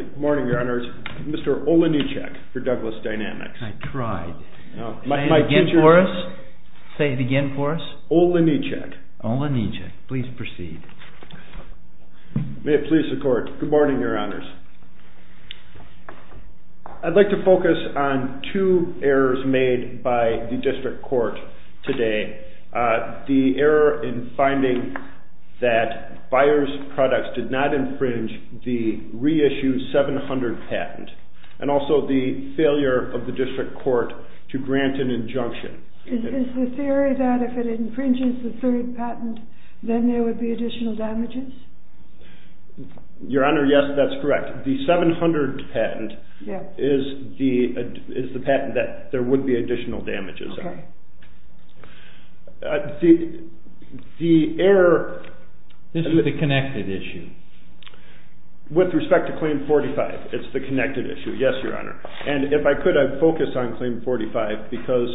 Good morning, your honors. Mr. Olejniczak for Douglas Dynamics. I tried. Say it again for us. Olejniczak. Olejniczak. Please proceed. May it please the court. Good morning, your honors. I'd like to focus on two errors made by the district court today. The error in finding that BUYERS PRODUCTS did not infringe the reissued 700 patent, and also the failure of the district court to grant an injunction. Is the theory that if it infringes the third patent, then there would be additional damages? Your honor, yes, that's correct. The 700 patent is the patent that there would be additional damages. Okay. The error... This is the connected issue. With respect to Claim 45, it's the connected issue. Yes, your honor. And if I could, I'd focus on Claim 45 because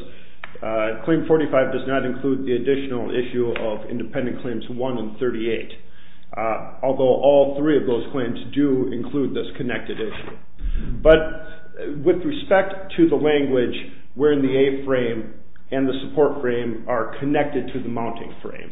Claim 45 does not include the additional issue of Independent Claims 1 and 38. Although all three of those claims do include this connected issue. But with respect to the language wherein the A-frame and the support frame are connected to the mounting frame,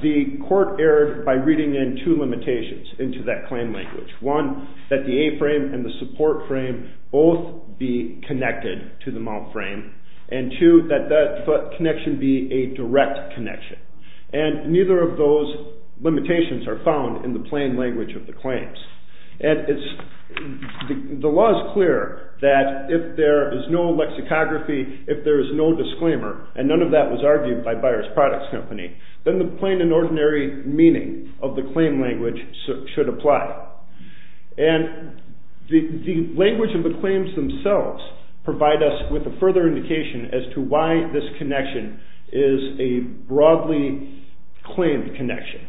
the court erred by reading in two limitations into that claim language. One, that the A-frame and the support frame both be connected to the mount frame. And two, that that connection be a direct connection. And neither of those limitations are found in the plain language of the claims. And the law is clear that if there is no lexicography, if there is no disclaimer, and none of that was argued by Byers Products Company, then the plain and ordinary meaning of the claim language should apply. And the language of the claims themselves provide us with a further indication as to why this connection is a broadly claimed connection.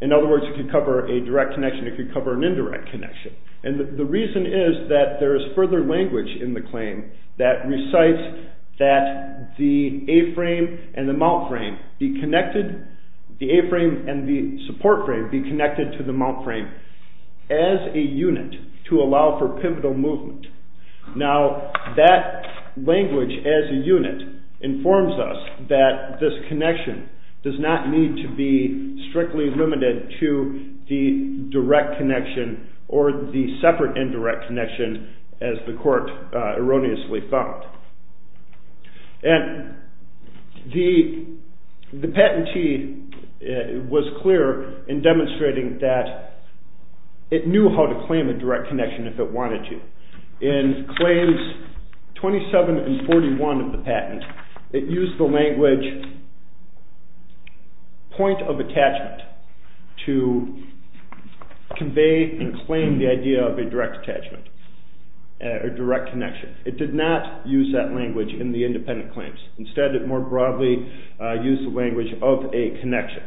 In other words, it could cover a direct connection, it could cover an indirect connection. And the reason is that there is further language in the claim that recites that the A-frame and the mount frame be connected, the A-frame and the support frame be connected to the mount frame as a unit to allow for pivotal movement. Now that language as a unit informs us that this connection does not need to be strictly limited to the direct connection or the separate indirect connection as the court erroneously found. And the patentee was clear in demonstrating that it knew how to claim a direct connection if it wanted to. In claims 27 and 41 of the patent, it used the language point of attachment to convey and claim the idea of a direct attachment or direct connection. It did not use that language in the independent claims. Instead, it more broadly used the language of a connection.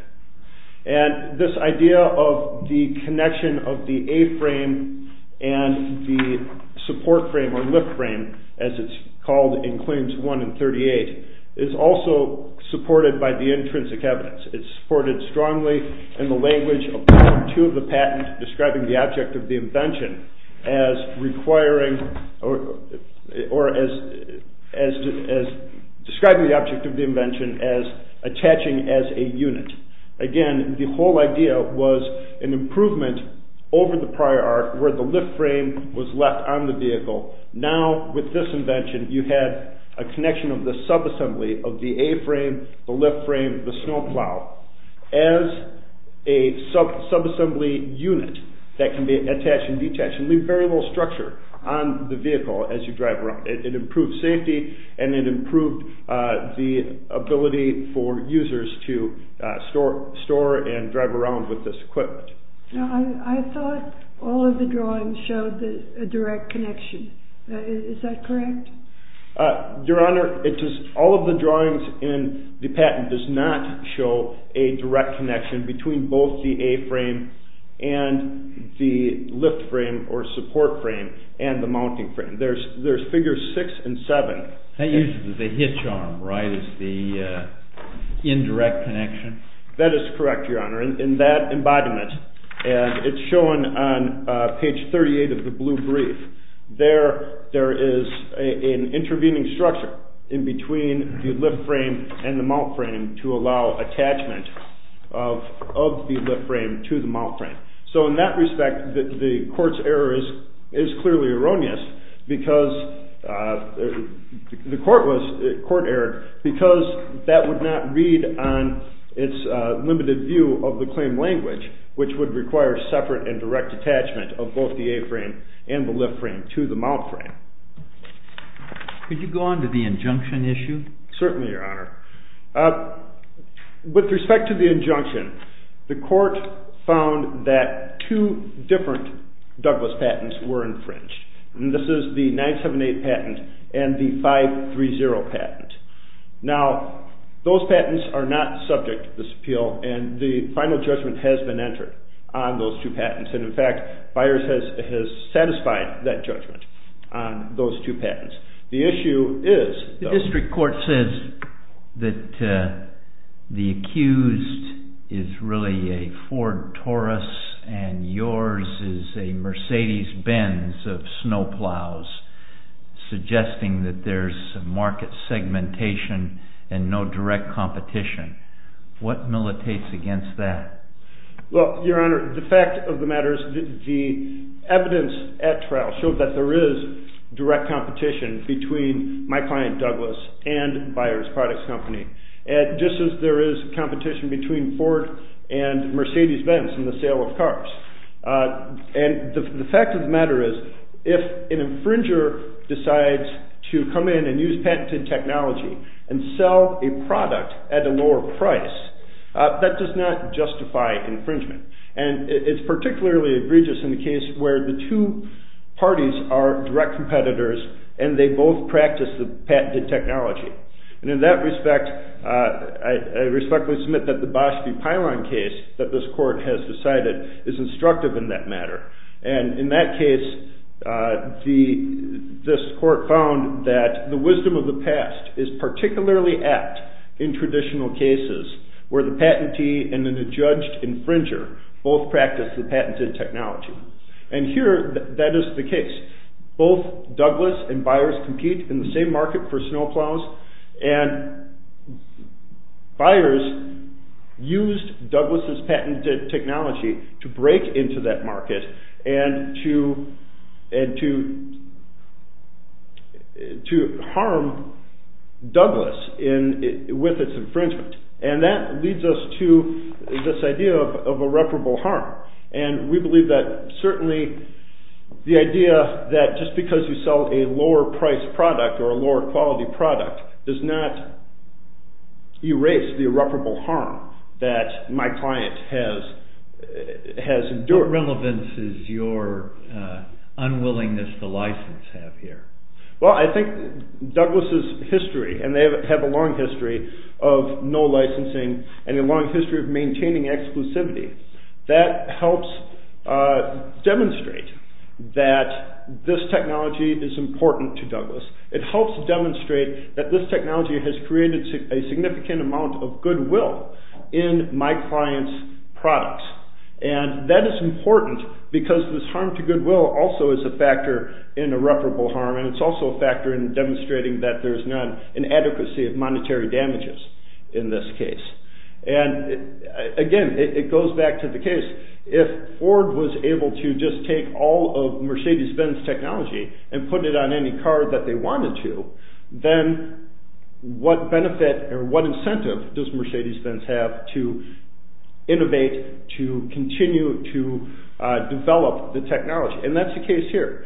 And this idea of the connection of the A-frame and the support frame or lift frame, as it's called in claims 1 and 38, is also supported by the intrinsic evidence. It's supported strongly in the language of part 2 of the patent describing the object of the invention as attaching as a unit. Again, the whole idea was an improvement over the prior art where the lift frame was left on the vehicle. Now, with this invention, you had a connection of the sub-assembly of the A-frame, the lift frame, the snow plow as a sub-assembly unit that can be attached and detached and leave variable structure on the vehicle as you drive around. It improved safety and it improved the ability for users to store and drive around with this equipment. Now, I thought all of the drawings showed a direct connection. Is that correct? Your Honor, all of the drawings in the patent does not show a direct connection between both the A-frame and the lift frame or support frame and the mounting frame. There's figures 6 and 7. That uses the hitch arm, right, as the indirect connection? That is correct, Your Honor, in that embodiment. And it's shown on page 38 of the blue brief. There is an intervening structure in between the lift frame and the mount frame to allow attachment of the lift frame to the mount frame. So in that respect, the court's error is clearly erroneous because the court was, the court erred because that would not read on its limited view of the claim language which would require separate and direct attachment of both the A-frame and the lift frame to the mount frame. Could you go on to the injunction issue? Certainly, Your Honor. With respect to the injunction, the court found that two different Douglas patents were infringed. This is the 978 patent and the 530 patent. Now, those patents are not subject to this appeal, and the final judgment has been entered on those two patents. And, in fact, Byers has satisfied that judgment on those two patents. The issue is, though... ...suggesting that there's market segmentation and no direct competition. What militates against that? Well, Your Honor, the fact of the matter is the evidence at trial showed that there is direct competition between my client, Douglas, and Byers Products Company, just as there is competition between Ford and Mercedes-Benz in the sale of cars. And the fact of the matter is, if an infringer decides to come in and use patented technology and sell a product at a lower price, that does not justify infringement. And it's particularly egregious in the case where the two parties are direct competitors and they both practice the patented technology. And in that respect, I respectfully submit that the Bosch v. Pylon case that this court has decided is instructive in that matter. And in that case, this court found that the wisdom of the past is particularly apt in traditional cases where the patentee and an adjudged infringer both practice the patented technology. And here, that is the case. Both Douglas and Byers compete in the same market for snow plows. And Byers used Douglas' patented technology to break into that market and to harm Douglas with its infringement. And that leads us to this idea of irreparable harm. And we believe that certainly the idea that just because you sell a lower-priced product or a lower-quality product does not erase the irreparable harm that my client has endured. What relevance does your unwillingness to license have here? Well, I think Douglas' history, and they have a long history of no licensing and a long history of maintaining exclusivity, that helps demonstrate that this technology is important to Douglas. It helps demonstrate that this technology has created a significant amount of goodwill in my client's products. And that is important because this harm to goodwill also is a factor in irreparable harm and it's also a factor in demonstrating that there's not an adequacy of monetary damages in this case. And again, it goes back to the case, if Ford was able to just take all of Mercedes-Benz technology and put it on any car that they wanted to, then what benefit or what incentive does Mercedes-Benz have to innovate, to continue to develop the technology? And that's the case here.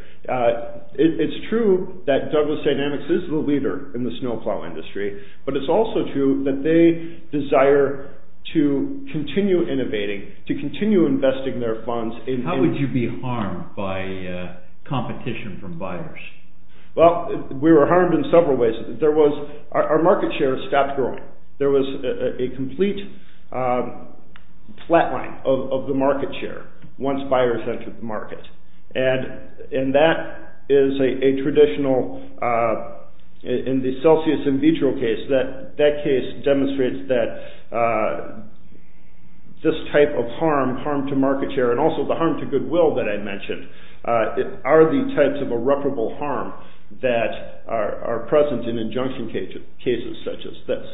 It's true that Douglas Dynamics is the leader in the snow plow industry, but it's also true that they desire to continue innovating, to continue investing their funds. How would you be harmed by competition from buyers? Well, we were harmed in several ways. Our market share stopped growing. There was a complete flatline of the market share once buyers entered the market. And that is a traditional, in the Celsius in vitro case, that case demonstrates that this type of harm, harm to market share, and also the harm to goodwill that I mentioned, are the types of irreparable harm that are present in injunction cases such as this.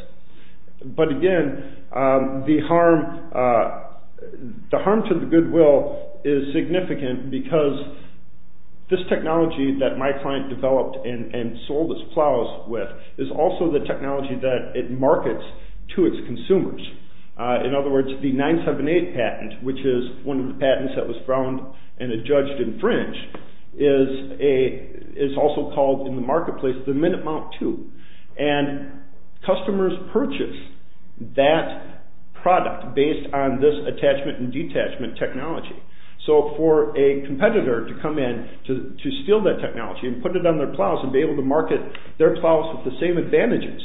But again, the harm to the goodwill is significant because this technology that my client developed and sold his plows with is also the technology that it markets to its consumers. In other words, the 978 patent, which is one of the patents that was found and it judged in fringe, is also called in the marketplace the Minute Mount II. And customers purchase that product based on this attachment and detachment technology. So for a competitor to come in to steal that technology and put it on their plows and be able to market their plows with the same advantages,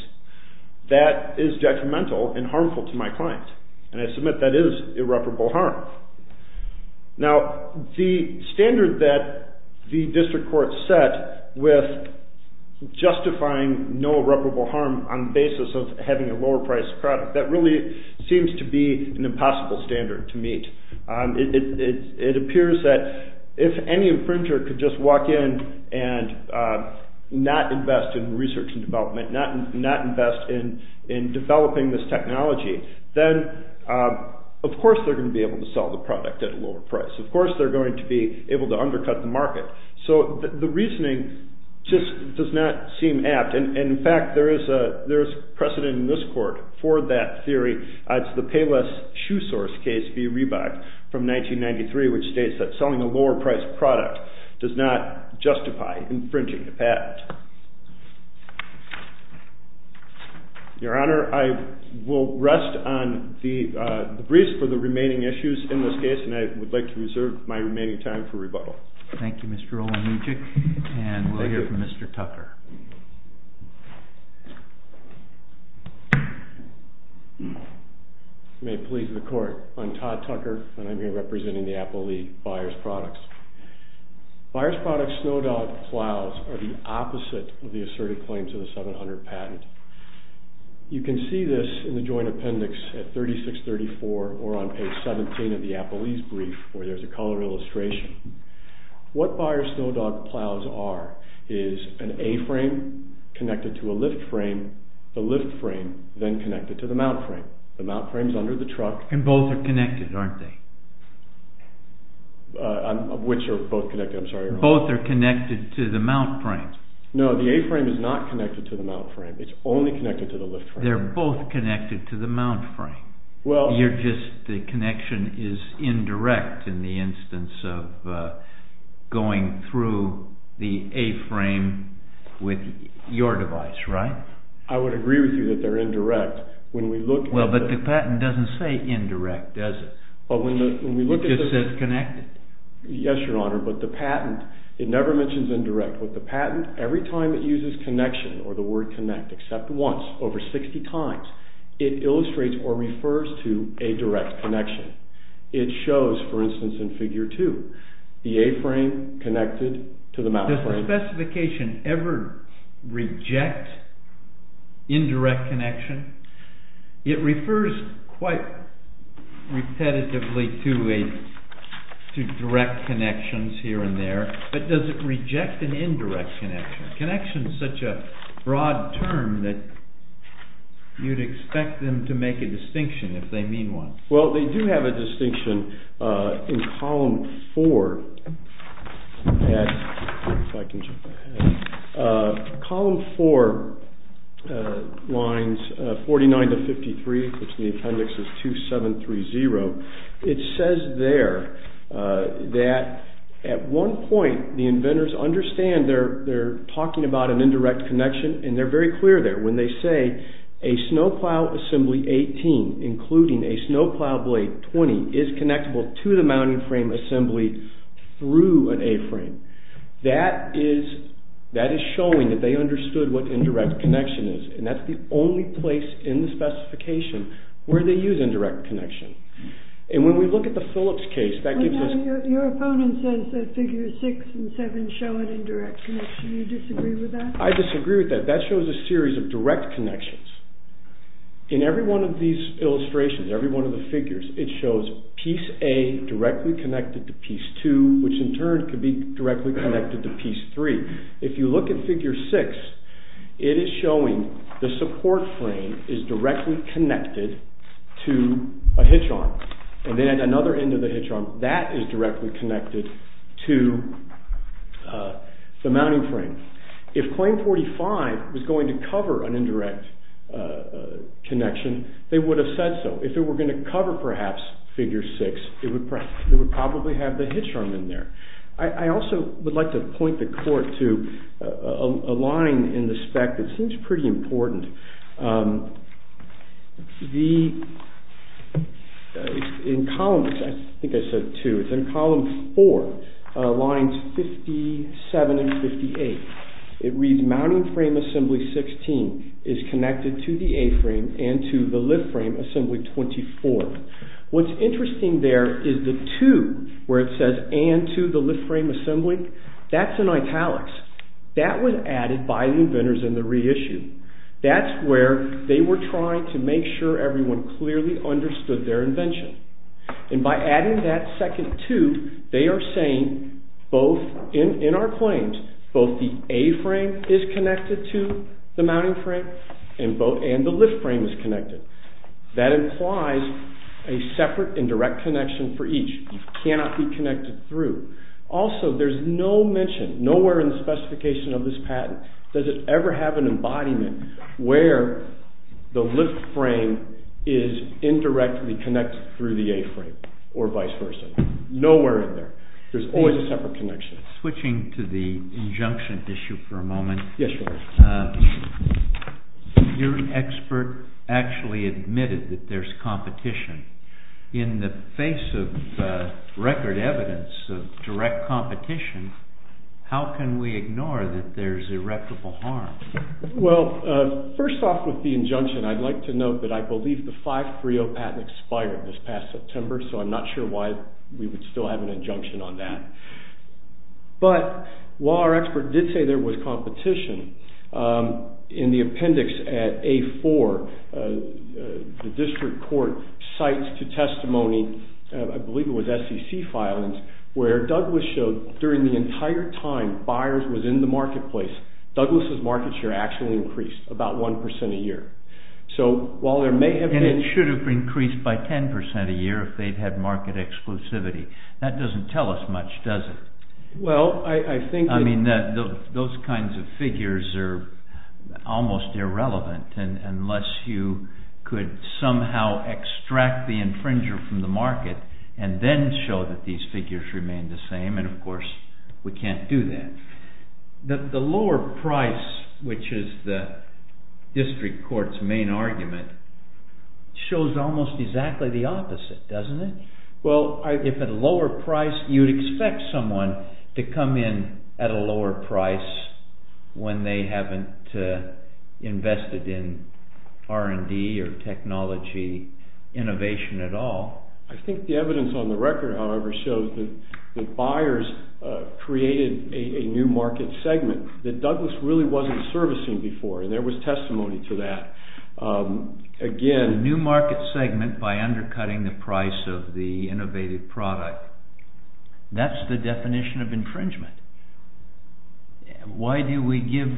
that is detrimental and harmful to my client. And I submit that is irreparable harm. Now, the standard that the district court set with justifying no irreparable harm on the basis of having a lower priced product, that really seems to be an impossible standard to meet. It appears that if any infringer could just walk in and not invest in research and development, not invest in developing this technology, then of course they're going to be able to sell the product at a lower price. Of course they're going to be able to undercut the market. So the reasoning just does not seem apt. And in fact, there is precedent in this court for that theory. It's the Payless Shoe Source case v. Reebok from 1993, which states that selling a lower priced product does not justify infringing the patent. Your Honor, I will rest on the briefs for the remaining issues in this case, and I would like to reserve my remaining time for rebuttal. Thank you, Mr. Olejniczak. And we'll hear from Mr. Tucker. You may please the court. I'm Todd Tucker, and I'm here representing the Apple League Buyers Products. Buyers Products Snow Dog plows are the opposite of the asserted claims of the 700 patent. You can see this in the joint appendix at 3634 or on page 17 of the Apple Ease brief, where there's a color illustration. What Buyers Snow Dog plows are is an A-frame connected to a lift frame, the lift frame then connected to the mount frame. The mount frame's under the truck. And both are connected, aren't they? Which are both connected? I'm sorry, Your Honor. Both are connected to the mount frame. No, the A-frame is not connected to the mount frame. It's only connected to the lift frame. They're both connected to the mount frame. You're just, the connection is indirect in the instance of going through the A-frame with your device, right? I would agree with you that they're indirect. Well, but the patent doesn't say indirect, does it? It just says connected. Yes, Your Honor, but the patent, it never mentions indirect. With the patent, every time it uses connection, or the word connect, except once, over 60 times, it illustrates or refers to a direct connection. It shows, for instance, in Figure 2, the A-frame connected to the mount frame. Does the specification ever reject indirect connection? It refers quite repetitively to direct connections here and there. But does it reject an indirect connection? Connection is such a broad term that you'd expect them to make a distinction if they mean one. Well, they do have a distinction in Column 4. If I can jump ahead. Column 4, lines 49 to 53, which in the appendix is 2730, it says there that at one point the inventors understand they're talking about an indirect connection, and they're very clear there. When they say a snowplow assembly 18, including a snowplow blade 20, is connectable to the mounting frame assembly through an A-frame, that is showing that they understood what indirect connection is. And that's the only place in the specification where they use indirect connection. And when we look at the Phillips case, that gives us... Your opponent says that Figure 6 and 7 show an indirect connection. Do you disagree with that? I disagree with that. That shows a series of direct connections. In every one of these illustrations, every one of the figures, it shows Piece A directly connected to Piece 2, which in turn could be directly connected to Piece 3. If you look at Figure 6, it is showing the support frame is directly connected to a hitch arm. And then at another end of the hitch arm, that is directly connected to the mounting frame. If Claim 45 was going to cover an indirect connection, they would have said so. If they were going to cover, perhaps, Figure 6, they would probably have the hitch arm in there. I also would like to point the court to a line in the spec that seems pretty important. In column 4, lines 57 and 58, it reads, Mounting frame assembly 16 is connected to the A-frame and to the lift frame assembly 24. What's interesting there is the 2, where it says, and to the lift frame assembly, that's in italics. That was added by the inventors in the reissue. That's where they were trying to make sure everyone clearly understood their invention. And by adding that second 2, they are saying, in our claims, both the A-frame is connected to the mounting frame and the lift frame is connected. That implies a separate indirect connection for each. It cannot be connected through. Also, there's no mention, nowhere in the specification of this patent, does it ever have an embodiment where the lift frame is indirectly connected through the A-frame or vice versa. Nowhere in there. There's always a separate connection. Switching to the injunction issue for a moment, your expert actually admitted that there's competition. In the face of record evidence of direct competition, how can we ignore that there's irreparable harm? Well, first off with the injunction, I'd like to note that I believe the 530 patent expired this past September, so I'm not sure why we would still have an injunction on that. But while our expert did say there was competition, in the appendix at A-4, the district court cites to testimony, I believe it was SEC filings, where Douglas showed during the entire time buyers was in the marketplace, Douglas' market share actually increased about 1% a year. And it should have increased by 10% a year if they'd had market exclusivity. That doesn't tell us much, does it? Well, I think... I mean, those kinds of figures are almost irrelevant, unless you could somehow extract the infringer from the market and then show that these figures remain the same, and of course, we can't do that. The lower price, which is the district court's main argument, shows almost exactly the opposite, doesn't it? Well, if at a lower price, you'd expect someone to come in at a lower price when they haven't invested in R&D or technology innovation at all. I think the evidence on the record, however, shows that buyers created a new market segment that Douglas really wasn't servicing before, and there was testimony to that. Again... A new market segment by undercutting the price of the innovative product. That's the definition of infringement. Why do we give...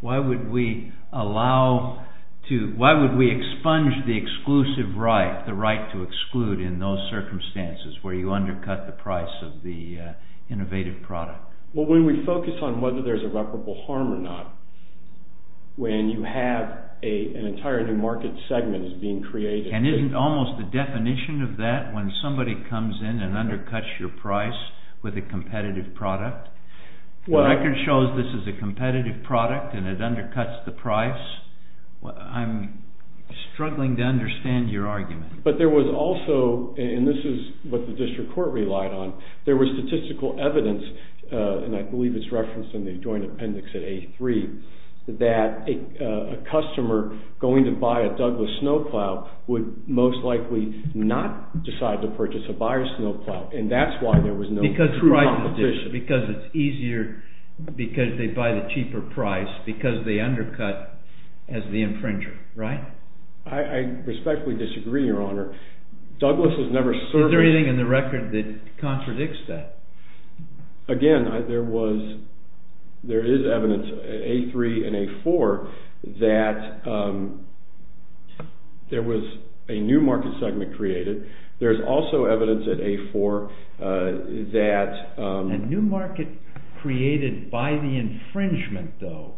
Why would we allow to... Why would we expunge the exclusive right, the right to exclude in those circumstances where you undercut the price of the innovative product? Well, when we focus on whether there's irreparable harm or not, when you have an entire new market segment is being created... And isn't almost the definition of that, when somebody comes in and undercuts your price with a competitive product? The record shows this is a competitive product and it undercuts the price. I'm struggling to understand your argument. But there was also, and this is what the district court relied on, there was statistical evidence, and I believe it's referenced in the joint appendix at A3, that a customer going to buy a Douglas snowplow would most likely not decide to purchase a buyer's snowplow. And that's why there was no true competition. Because it's easier, because they buy the cheaper price, because they undercut as the infringer, right? I respectfully disagree, Your Honor. Douglas has never serviced... Is there anything in the record that contradicts that? Again, there is evidence at A3 and A4 that there was a new market segment created. There's also evidence at A4 that... A new market created by the infringement, though.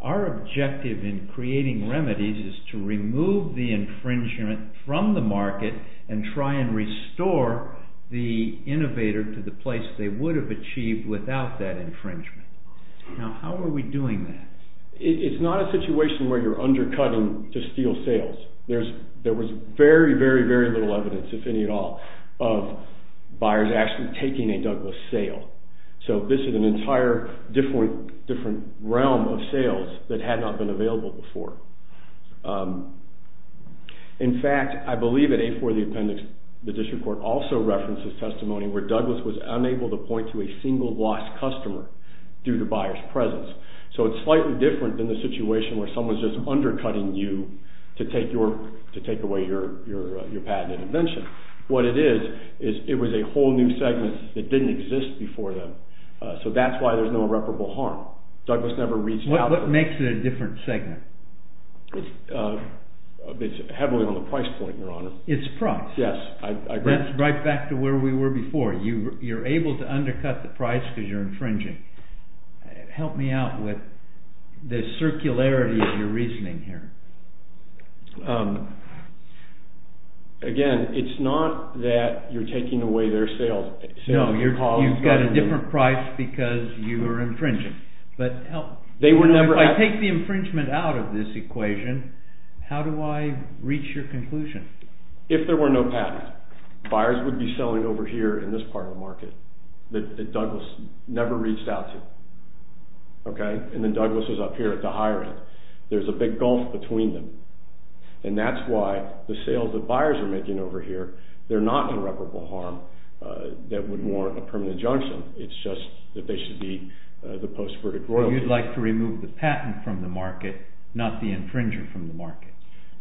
Our objective in creating remedies is to remove the infringement from the market and try and restore the innovator to the place they would have achieved without that infringement. Now, how are we doing that? It's not a situation where you're undercutting to steal sales. There was very, very, very little evidence, if any at all, of buyers actually taking a Douglas sale. So this is an entire different realm of sales that had not been available before. In fact, I believe at A4, the appendix, the district court also references testimony where Douglas was unable to point to a single lost customer due to buyers' presence. So it's slightly different than the situation where someone's just undercutting you to take away your patent and invention. What it is, is it was a whole new segment that didn't exist before then. So that's why there's no irreparable harm. What makes it a different segment? It's heavily on the price point, Your Honor. It's price. Yes, I agree. That's right back to where we were before. You're able to undercut the price because you're infringing. Help me out with the circularity of your reasoning here. Again, it's not that you're taking away their sales. No, you've got a different price because you're infringing. But if I take the infringement out of this equation, how do I reach your conclusion? If there were no patent, buyers would be selling over here in this part of the market that Douglas never reached out to. And then Douglas was up here at the higher end. There's a big gulf between them. And that's why the sales that buyers are making over here, they're not irreparable harm that would warrant a permanent injunction. It's just that they should be the post-verdict royalty. You'd like to remove the patent from the market, not the infringer from the market.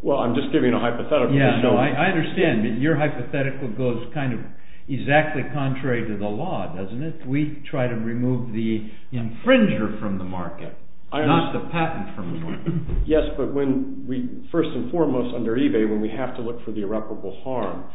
Well, I'm just giving a hypothetical. I understand. Your hypothetical goes kind of exactly contrary to the law, doesn't it? We try to remove the infringer from the market, not the patent from the market. Yes, but first and foremost under eBay, when we have to look for the irreparable harm,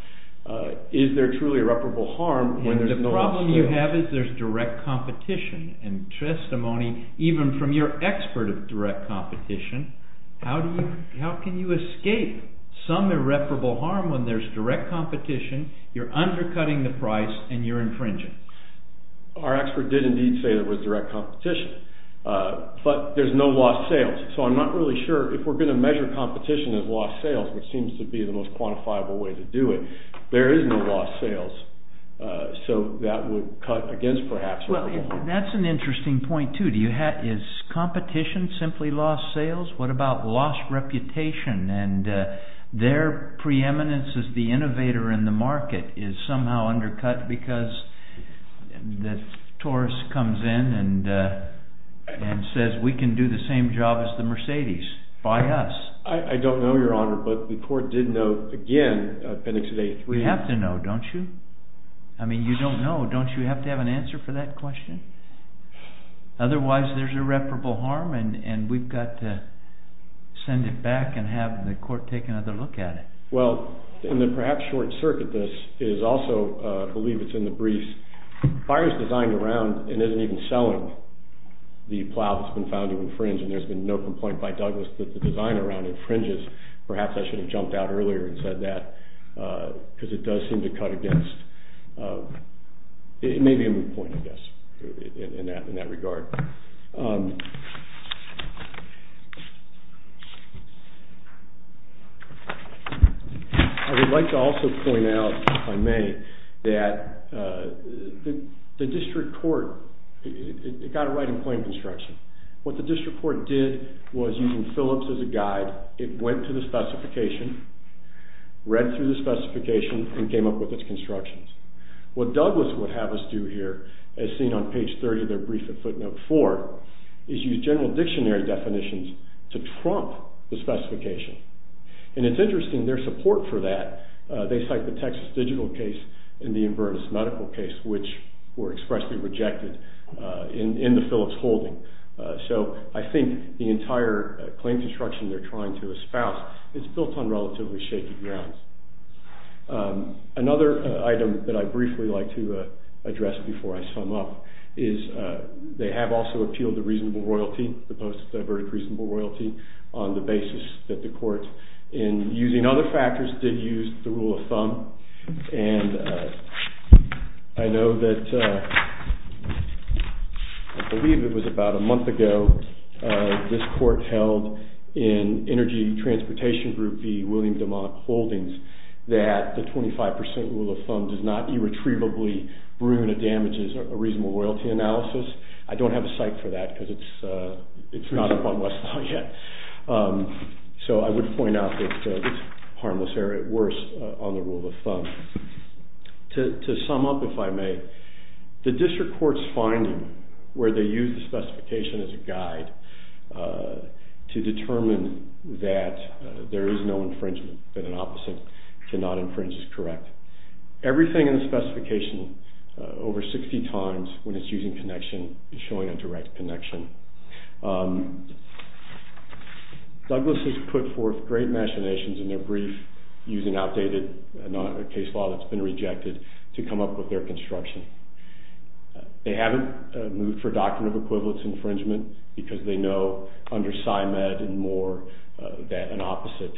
is there truly irreparable harm when there's no lawsuit? And the problem you have is there's direct competition and testimony even from your expert of direct competition. How can you escape some irreparable harm when there's direct competition, you're undercutting the price, and you're infringing? Our expert did indeed say there was direct competition. But there's no lost sales. So I'm not really sure if we're going to measure competition as lost sales, which seems to be the most quantifiable way to do it. There is no lost sales. So that would cut against perhaps irreparable harm. That's an interesting point too. Is competition simply lost sales? What about lost reputation and their preeminence as the innovator in the market is somehow undercut because the tourist comes in and says we can do the same job as the Mercedes. Buy us. I don't know, Your Honor, but the court did note, again, Appendix A3. We have to know, don't you? I mean, you don't know. Don't you have to have an answer for that question? Otherwise there's irreparable harm, and we've got to send it back and have the court take another look at it. Well, in the perhaps short circuit, this is also, I believe it's in the briefs, buyers designed around and isn't even selling the plow that's been found to infringe, and there's been no complaint by Douglas that the design around infringes. Perhaps I should have jumped out earlier and said that because it does seem to cut against. It may be a moot point, I guess, in that regard. I would like to also point out, if I may, that the district court, it got it right in plain construction. What the district court did was, using Phillips as a guide, it went to the specification, read through the specification, and came up with its constructions. What Douglas would have us do here, as seen on page 30 of their brief at footnote 4, is use general dictionary definitions to trump the specification. And it's interesting, their support for that, they cite the Texas digital case and the Inverness medical case, which were expressly rejected in the Phillips holding. So I think the entire claim construction they're trying to espouse is built on relatively shaky grounds. Another item that I'd briefly like to address before I sum up is they have also appealed the reasonable royalty, the post-verdict reasonable royalty, on the basis that the court, in using other factors, did use the rule of thumb. And I know that, I believe it was about a month ago, this court held in Energy Transportation Group v. William DeMont Holdings that the 25% rule of thumb does not irretrievably ruin or damage a reasonable royalty analysis. I don't have a cite for that because it's not upon Westlaw yet. So I would point out that it's harmless error at worst on the rule of thumb. To sum up, if I may, the district court's finding where they use the specification as a guide to determine that there is no infringement, that an opposite cannot infringe is correct. Everything in the specification, over 60 times, when it's using connection, is showing a direct connection. Douglas has put forth great machinations in their brief using outdated case law that's been rejected to come up with their construction. They haven't moved for a doctrine of equivalence infringement because they know under SCIMED and more that an opposite,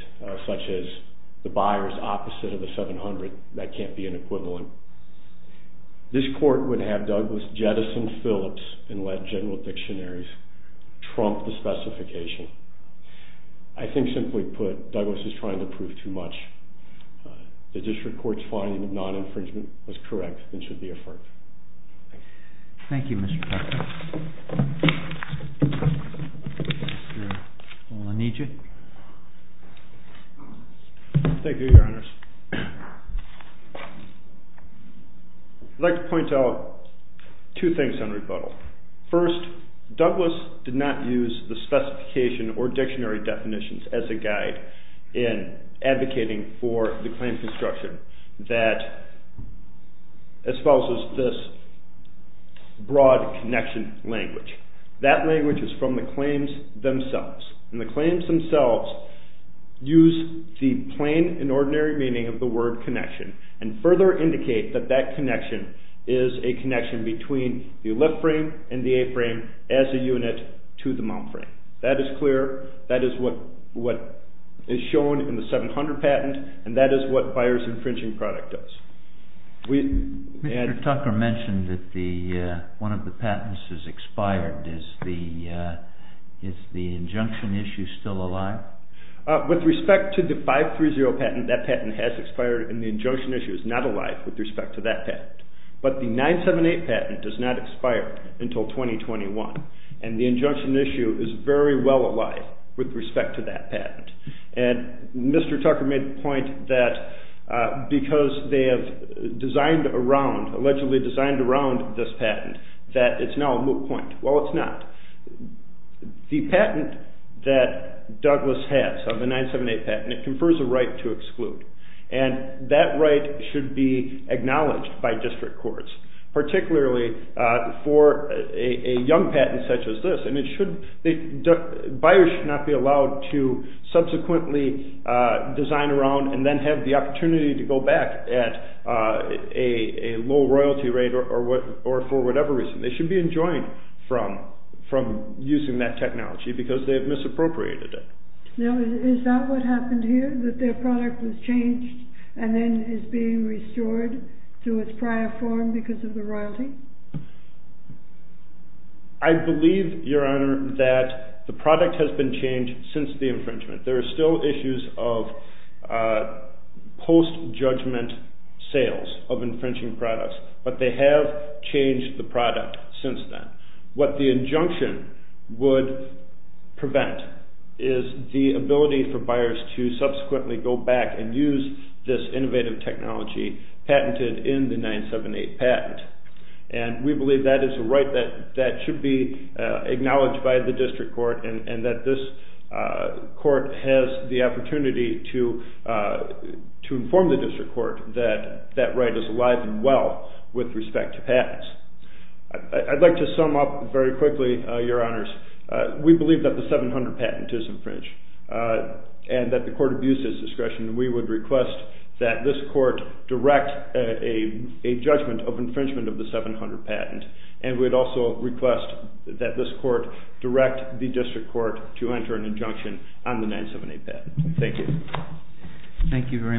such as the buyer's opposite of the 700, that can't be an equivalent. This court would have Douglas jettison Phillips and let general dictionaries trump the specification. I think, simply put, Douglas is trying to prove too much. The district court's finding of non-infringement was correct and should be affirmed. Thank you. Thank you, Mr. Parker. Mr. Olanidji. Thank you, Your Honors. I'd like to point out two things on rebuttal. First, Douglas did not use the specification or dictionary definitions as a guide in advocating for the claim construction that espouses this broad connection language. That language is from the claims themselves. The claims themselves use the plain and ordinary meaning of the word connection and further indicate that that connection is a connection between the lift frame and the A-frame as a unit to the mount frame. That is clear. That is what is shown in the 700 patent and that is what buyer's infringing product does. Mr. Tucker mentioned that one of the patents is expired. Is the injunction issue still alive? With respect to the 530 patent, that patent has expired and the injunction issue is not alive with respect to that patent. But the 978 patent does not expire until 2021 and the injunction issue is very well alive with respect to that patent. And Mr. Tucker made the point that because they have designed around, allegedly designed around this patent, that it's now a moot point. Well, it's not. The patent that Douglas has, the 978 patent, it confers a right to exclude and that right should be acknowledged by district courts, particularly for a young patent such as this. Buyers should not be allowed to subsequently design around and then have the opportunity to go back at a low royalty rate or for whatever reason. They should be enjoined from using that technology because they have misappropriated it. Now, is that what happened here, that their product was changed and then is being restored to its prior form because of the royalty? I believe, Your Honor, that the product has been changed since the infringement. There are still issues of post-judgment sales of infringing products, but they have changed the product since then. What the injunction would prevent is the ability for buyers to subsequently go back and use this innovative technology patented in the 978 patent. And we believe that is a right that should be acknowledged by the district court and that this court has the opportunity to inform the district court that that right is alive and well with respect to patents. I'd like to sum up very quickly, Your Honors. We believe that the 700 patent is infringed and that the court abuses discretion. We would request that this court direct a judgment of infringement of the 700 patent and we'd also request that this court direct the district court to enter an injunction on the 978 patent. Thank you. Thank you very much.